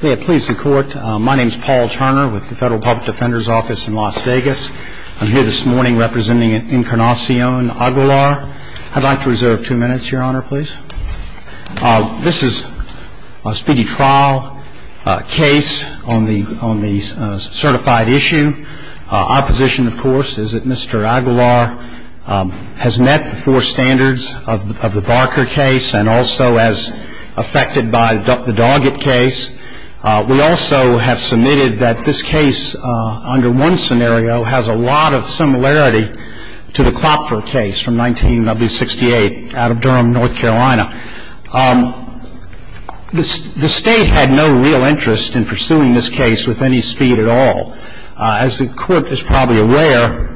Please the court. My name is Paul Turner with the Federal Public Defender's Office in Las Vegas. I'm here this morning representing Encarnacion Aguilar. I'd like to reserve two minutes, Your Honor, please. This is a speedy trial case on the certified issue. Our position, of course, is that Mr. Aguilar has met the four standards of the Barker case and also as affected by the Doggett case. We also have submitted that this case under one scenario has a lot of similarity to the Klopfer case from 1968 out of Durham, North Carolina. The State had no real interest in pursuing this case with any speed at all. As the Court is probably aware,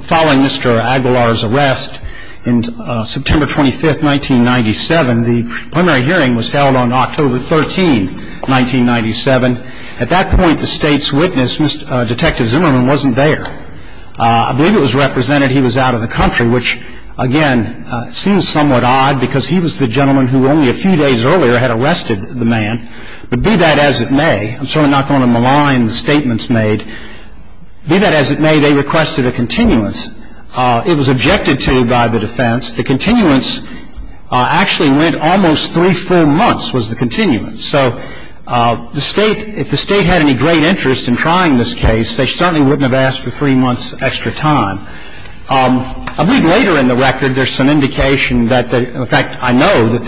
following Mr. Aguilar's arrest on September 25, 1997, the primary hearing was held on October 13, 1997. At that point, the State's witness, Detective Zimmerman, wasn't there. I believe it was represented he was out of the country, which, again, seems somewhat odd because he was the gentleman who only a few days earlier had arrested the man. But be that as it may, I'm sort of not going to malign the statements made, be that as it may, they requested a continuance. It was objected to by the defense. The continuance actually went almost three full months was the continuance. So the State, if the State had any great interest in trying this case, they certainly wouldn't have asked for three months' extra time. A week later in the record, there's some indication that, in fact, I know that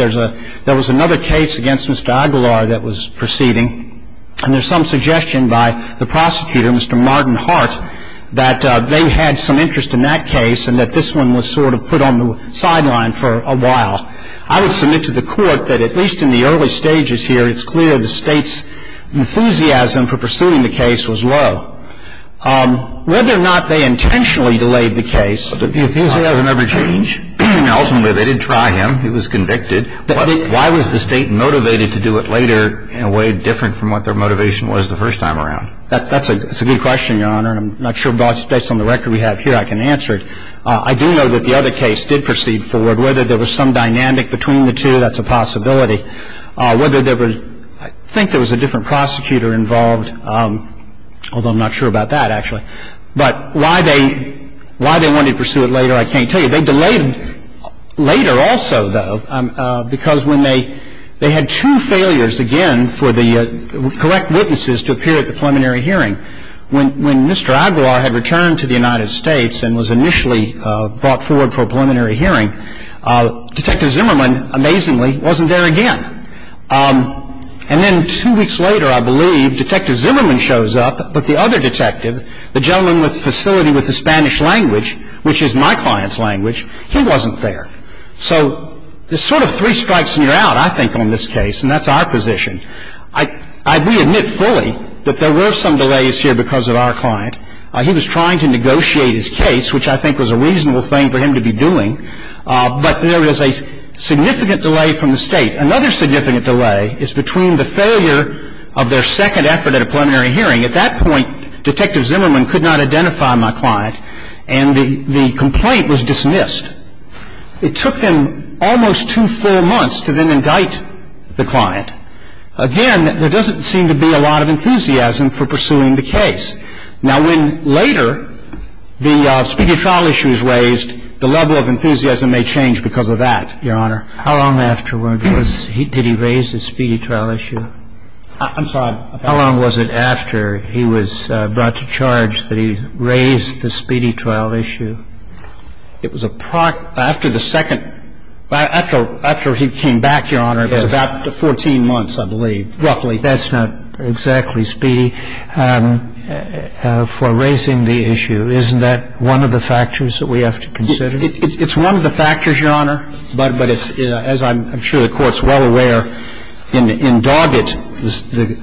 there was another case against Mr. Aguilar that was proceeding. And there's some suggestion by the prosecutor, Mr. Martin Hart, that they had some interest in that case and that this one was sort of put on the sideline for a while. I would submit to the Court that, at least in the early stages here, it's clear the State's enthusiasm for pursuing the case was low. Whether or not they intentionally delayed the case, the enthusiasm never changed. Ultimately, they did try him. He was convicted. Why was the State motivated to do it later in a way different from what their motivation was the first time around? That's a good question, Your Honor, and I'm not sure, based on the record we have here, I can answer it. I do know that the other case did proceed forward. Whether there was some dynamic between the two, that's a possibility. I think there was a different prosecutor involved, although I'm not sure about that, actually. But why they wanted to pursue it later, I can't tell you. They delayed later also, though, because they had two failures, again, for the correct witnesses to appear at the preliminary hearing. When Mr. Aguilar had returned to the United States and was initially brought forward for a preliminary hearing, Detective Zimmerman, amazingly, wasn't there again. And then two weeks later, I believe, Detective Zimmerman shows up, but the other detective, the gentleman with the facility with the Spanish language, which is my client's language, he wasn't there. So there's sort of three strikes and you're out, I think, on this case, and that's our position. We admit fully that there were some delays here because of our client. He was trying to negotiate his case, which I think was a reasonable thing for him to be doing, but there is a significant delay from the State. Another significant delay is between the failure of their second effort at a preliminary hearing. At that point, Detective Zimmerman could not identify my client and the complaint was dismissed. It took them almost two full months to then indict the client. Again, there doesn't seem to be a lot of enthusiasm for pursuing the case. Now, when later the speedy trial issue is raised, the level of enthusiasm may change because of that, Your Honor. How long afterward did he raise the speedy trial issue? I'm sorry. How long was it after he was brought to charge that he raised the speedy trial issue? It was after the second. After he came back, Your Honor, it was about 14 months, I believe, roughly. That's not exactly speedy. For raising the issue, isn't that one of the factors that we have to consider? It's one of the factors, Your Honor, but it's, as I'm sure the Court's well aware, in Dargat,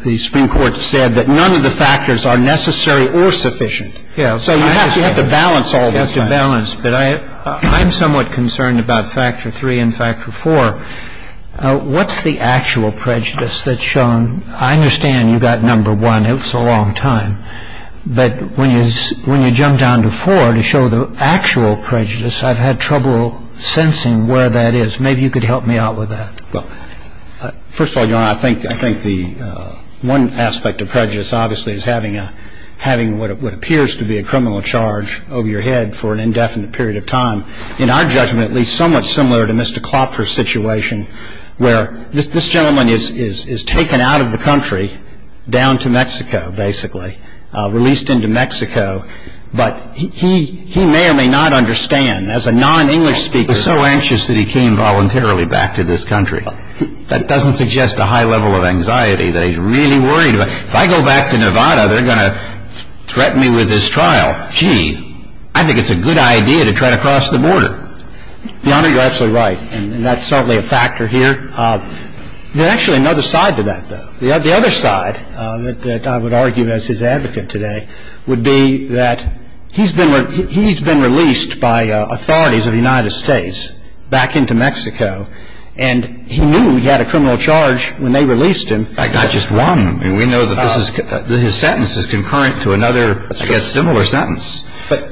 the Supreme Court said that none of the factors are necessary or sufficient. So you have to balance all of that. You have to balance. But I'm somewhat concerned about Factor III and Factor IV. What's the actual prejudice that's shown? I understand you got number one. It was a long time. But when you jump down to IV to show the actual prejudice, I've had trouble sensing where that is. Maybe you could help me out with that. First of all, Your Honor, I think the one aspect of prejudice, obviously, is having what appears to be a criminal charge over your head for an indefinite period of time. In our judgment, at least, somewhat similar to Mr. Clopper's situation, where this gentleman is taken out of the country down to Mexico, basically, released into Mexico. But he may or may not understand, as a non-English speaker. He was so anxious that he came voluntarily back to this country. That doesn't suggest a high level of anxiety that he's really worried about. If I go back to Nevada, they're going to threaten me with this trial. Gee, I think it's a good idea to try to cross the border. Your Honor, you're absolutely right. And that's certainly a factor here. There's actually another side to that, though. The other side that I would argue, as his advocate today, would be that he's been released by authorities of the United States back into Mexico. And he knew he had a criminal charge when they released him. Not just one. We know that his sentence is concurrent to another, I guess, similar sentence.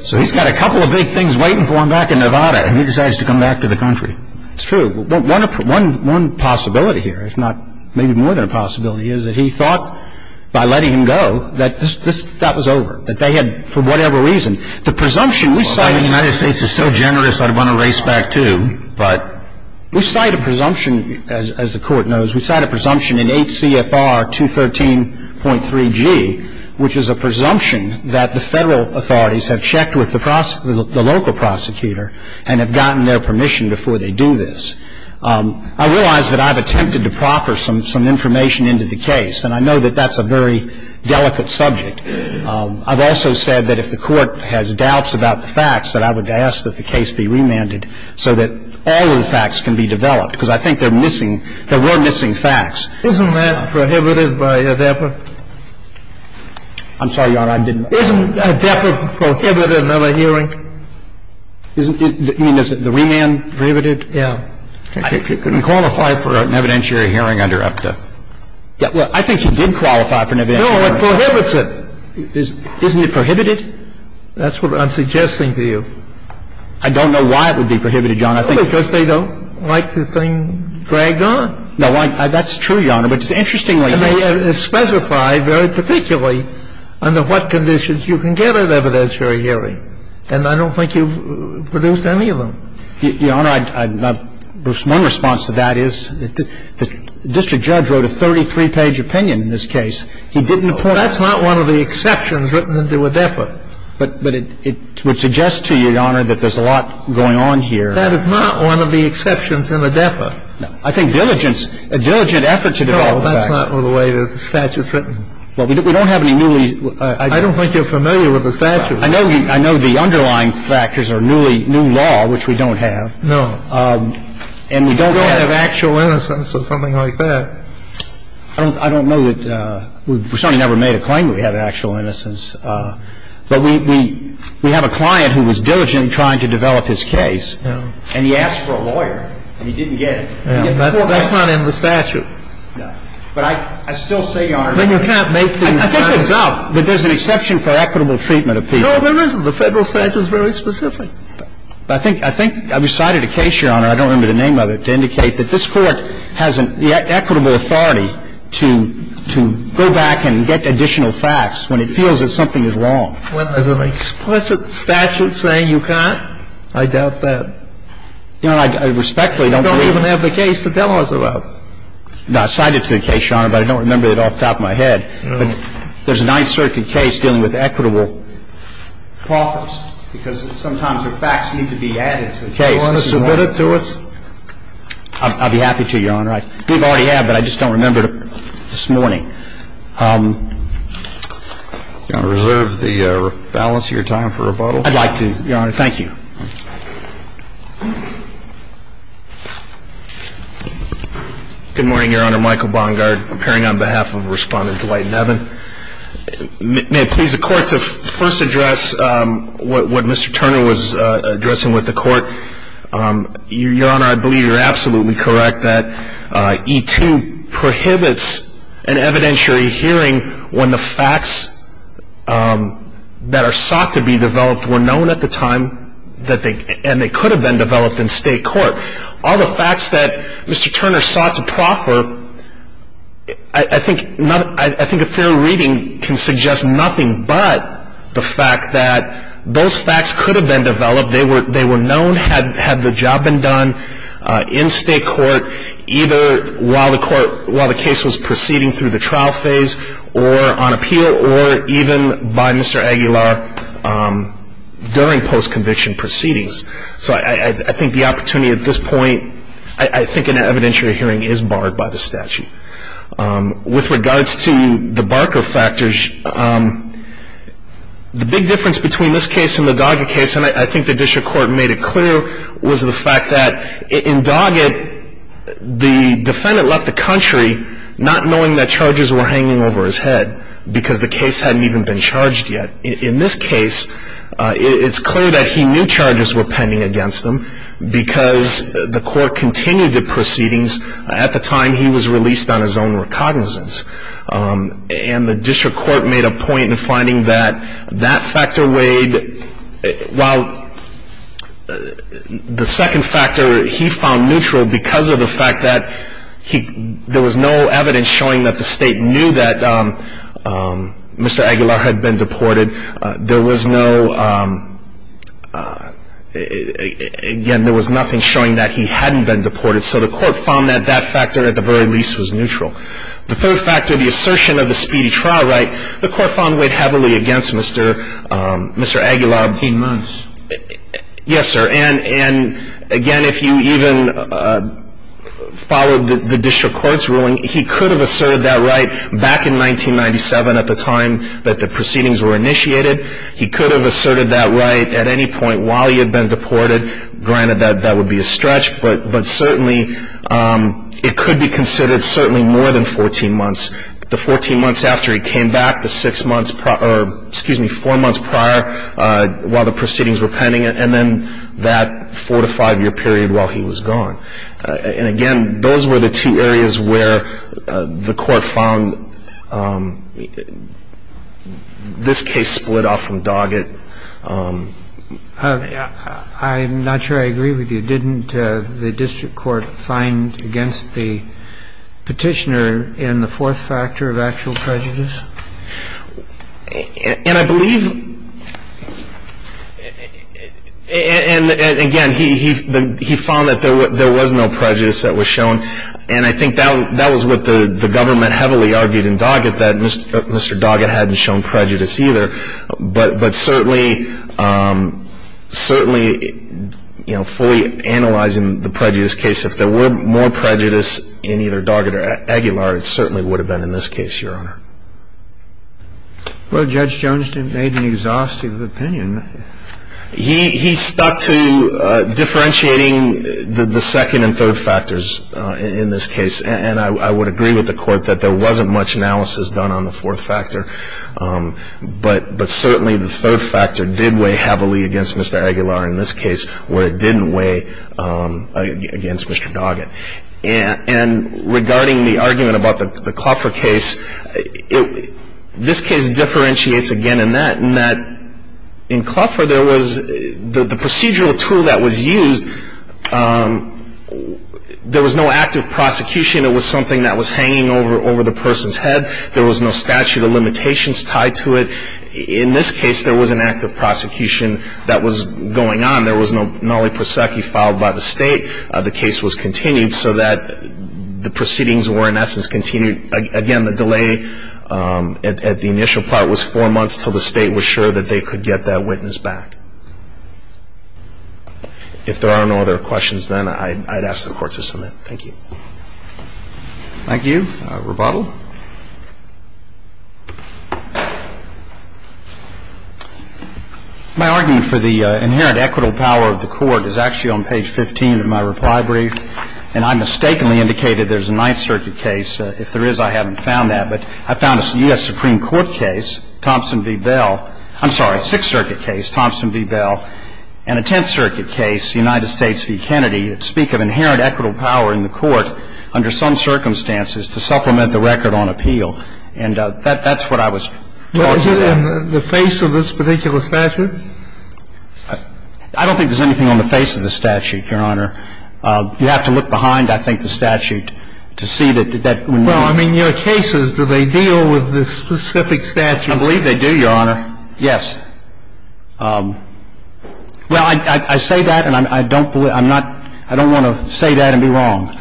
So he's got a couple of big things waiting for him back in Nevada. And he decides to come back to the country. It's true. One possibility here, if not maybe more than a possibility, is that he thought, by letting him go, that that was over. That they had, for whatever reason, the presumption. The United States is so generous, I'd want to race back, too. We cite a presumption, as the Court knows, we cite a presumption in 8 CFR 213.3G, which is a presumption that the Federal authorities have checked with the local prosecutor and have gotten their permission before they do this. I realize that I've attempted to proffer some information into the case, and I know that that's a very delicate subject. I've also said that if the Court has doubts about the facts, that I would ask that the case be remanded so that all of the facts can be developed, because I think there are missing facts. Isn't that prohibited by ADEPA? I'm sorry, Your Honor, I didn't. Isn't ADEPA prohibited another hearing? You mean the remand? Prohibited, yeah. He couldn't qualify for an evidentiary hearing under APTA. Yeah, well, I think he did qualify for an evidentiary hearing. No, it prohibits it. Isn't it prohibited? That's what I'm suggesting to you. I don't know why it would be prohibited, Your Honor. Because they don't like the thing dragged on. No, that's true, Your Honor. But it's interestingly made. It's specified very particularly under what conditions you can get an evidentiary hearing, and I don't think you've produced any of them. Your Honor, Bruce, my response to that is the district judge wrote a 33-page opinion in this case. He didn't point out. That's not one of the exceptions written into ADEPA. But it would suggest to you, Your Honor, that there's a lot going on here. That is not one of the exceptions in ADEPA. I think diligence, a diligent effort to develop the facts. No, that's not the way the statute's written. Well, we don't have any newly ---- I don't think you're familiar with the statute. I know the underlying factors are newly new law, which we don't have. No. And we don't have ---- We don't have actual innocence or something like that. I don't know that we've certainly never made a claim that we have actual innocence. But we have a client who was diligent in trying to develop his case, and he asked for a lawyer, and he didn't get it. That's not in the statute. No. But I still say, Your Honor, that there's an exception for equitable treatment of people. No, there isn't. The Federal statute is very specific. I think we cited a case, Your Honor, I don't remember the name of it, to indicate that this Court has an equitable authority to go back and get additional facts when it feels that something is wrong. When there's an explicit statute saying you can't? I doubt that. Your Honor, I respectfully don't believe ---- You don't even have the case to tell us about. No. I cited it to the case, Your Honor, but I don't remember it off the top of my head. But there's a Ninth Circuit case dealing with equitable profits, because sometimes the facts need to be added to the case. Do you want to submit it to us? I'd be happy to, Your Honor. We've already had it, but I just don't remember it this morning. Do you want to reserve the balance of your time for rebuttal? I'd like to, Your Honor. Thank you. Good morning, Your Honor. Michael Bongard, appearing on behalf of Respondent Dwight Nevin. May it please the Court to first address what Mr. Turner was addressing with the Court. Your Honor, I believe you're absolutely correct that E-2 prohibits an evidentiary hearing when the facts that are sought to be developed were known at the time and they could have been developed in state court. All the facts that Mr. Turner sought to proffer, I think a fair reading can suggest nothing but the fact that those facts could have been developed. They were known, had the job been done in state court, either while the case was proceeding through the trial phase or on appeal or even by Mr. Aguilar during post-conviction proceedings. So I think the opportunity at this point, I think an evidentiary hearing is barred by the statute. With regards to the Barker factors, the big difference between this case and the Doggett case, and I think the district court made it clear, was the fact that in Doggett, the defendant left the country not knowing that charges were hanging over his head because the case hadn't even been charged yet. In this case, it's clear that he knew charges were pending against him because the court continued the proceedings. At the time, he was released on his own recognizance. And the district court made a point in finding that that factor weighed, while the second factor he found neutral because of the fact that there was no evidence showing that the state knew that Mr. Aguilar had been deported. There was no, again, there was nothing showing that he hadn't been deported. So the court found that that factor at the very least was neutral. The third factor, the assertion of the speedy trial right, the court found weighed heavily against Mr. Aguilar. He must. Yes, sir. And again, if you even followed the district court's ruling, he could have asserted that right back in 1997 at the time that the proceedings were initiated. He could have asserted that right at any point while he had been deported. Granted, that would be a stretch, but certainly it could be considered certainly more than 14 months. The 14 months after he came back, the six months prior, or excuse me, four months prior while the proceedings were pending, and then that four to five year period while he was gone. And again, those were the two areas where the court found this case split off from Doggett. I'm not sure I agree with you. Didn't the district court find against the petitioner in the fourth factor of actual prejudice? And I believe, and again, he found that there was no prejudice that was shown. And I think that was what the government heavily argued in Doggett, that Mr. Doggett hadn't shown prejudice either. But certainly, you know, fully analyzing the prejudice case, if there were more prejudice in either Doggett or Aguilar, it certainly would have been in this case, Your Honor. Well, Judge Jones made an exhaustive opinion. He stuck to differentiating the second and third factors in this case. And I would agree with the court that there wasn't much analysis done on the fourth factor. But certainly the third factor did weigh heavily against Mr. Aguilar in this case, where it didn't weigh against Mr. Doggett. And regarding the argument about the Cluffer case, this case differentiates again in that, in that in Cluffer there was the procedural tool that was used, there was no active prosecution. It was something that was hanging over the person's head. There was no statute of limitations tied to it. In this case, there was an active prosecution that was going on. There was no Nolley-Prosecki filed by the state. The case was continued so that the proceedings were in essence continued. Again, the delay at the initial part was four months until the state was sure that they could get that witness back. If there are no other questions, then I'd ask the court to submit. Thank you. Thank you. Rebuttal. My argument for the inherent equitable power of the court is actually on page 15 of my reply brief. And I mistakenly indicated there's a Ninth Circuit case. If there is, I haven't found that. But I found a U.S. Supreme Court case, Thompson v. Bell. I'm sorry, Sixth Circuit case, Thompson v. Bell, and a Tenth Circuit case, United States v. Kennedy, speak of inherent equitable power in the court under some circumstances to supplement the record on appeal. And that's what I was talking about. Was it in the face of this particular statute? I don't think there's anything on the face of the statute, Your Honor. You have to look behind, I think, the statute to see that. Well, I mean, your case is, do they deal with this specific statute? I believe they do, Your Honor. Yes. Well, I say that, and I don't believe – I'm not – I don't want to say that and be wrong.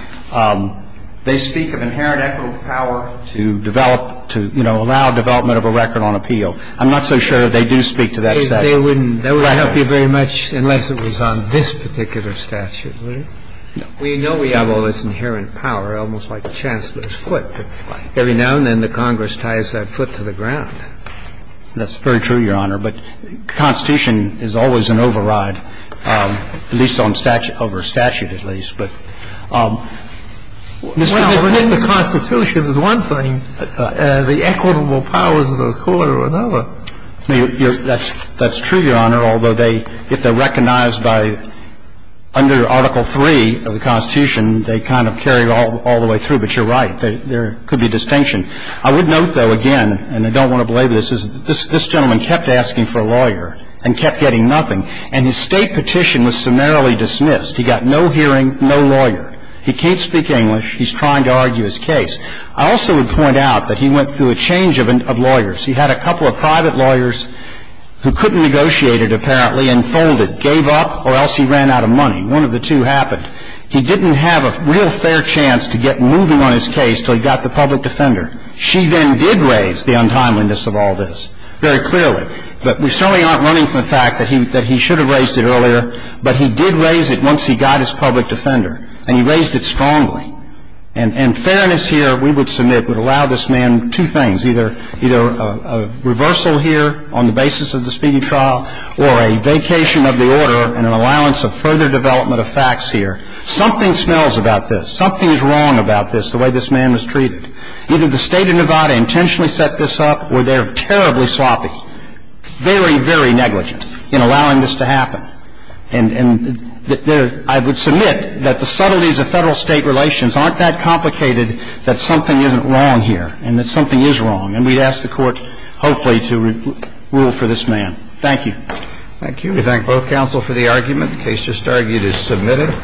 They speak of inherent equitable power to develop – to, you know, allow development of a record on appeal. I'm not so sure they do speak to that statute. They wouldn't. That wouldn't help you very much unless it was on this particular statute, would it? No. Well, you know we have all this inherent power, almost like the Chancellor's Right. Every now and then the Congress ties that foot to the ground. That's very true, Your Honor. But the Constitution is always an override, at least on statute – over statute, at least. But, Mr. – Well, if the Constitution is one thing, the equitable powers of the court are another. That's true, Your Honor, although they – if they're recognized by – under Article 3 of the Constitution, they kind of carry it all the way through. But you're right. There could be distinction. I would note, though, again, and I don't want to belabor this, is that this gentleman kept asking for a lawyer and kept getting nothing. And his state petition was summarily dismissed. He got no hearing, no lawyer. He can't speak English. He's trying to argue his case. I also would point out that he went through a change of lawyers. He had a couple of private lawyers who couldn't negotiate it, apparently, and folded, gave up, or else he ran out of money. One of the two happened. He didn't have a real fair chance to get moving on his case until he got the public defender. She then did raise the untimeliness of all this very clearly. But we certainly aren't running from the fact that he should have raised it earlier. But he did raise it once he got his public defender. And he raised it strongly. And fairness here, we would submit, would allow this man two things, either a reversal here on the basis of the speeding trial or a vacation of the order and an allowance of further development of facts here. Something smells about this. Something is wrong about this, the way this man was treated. Either the State of Nevada intentionally set this up or they're terribly sloppy, very, very negligent in allowing this to happen. And I would submit that the subtleties of Federal-State relations aren't that complicated that something isn't wrong here and that something is wrong. And we'd ask the Court, hopefully, to rule for this man. Thank you. Thank you. We thank both counsel for the argument. The case just argued is submitted.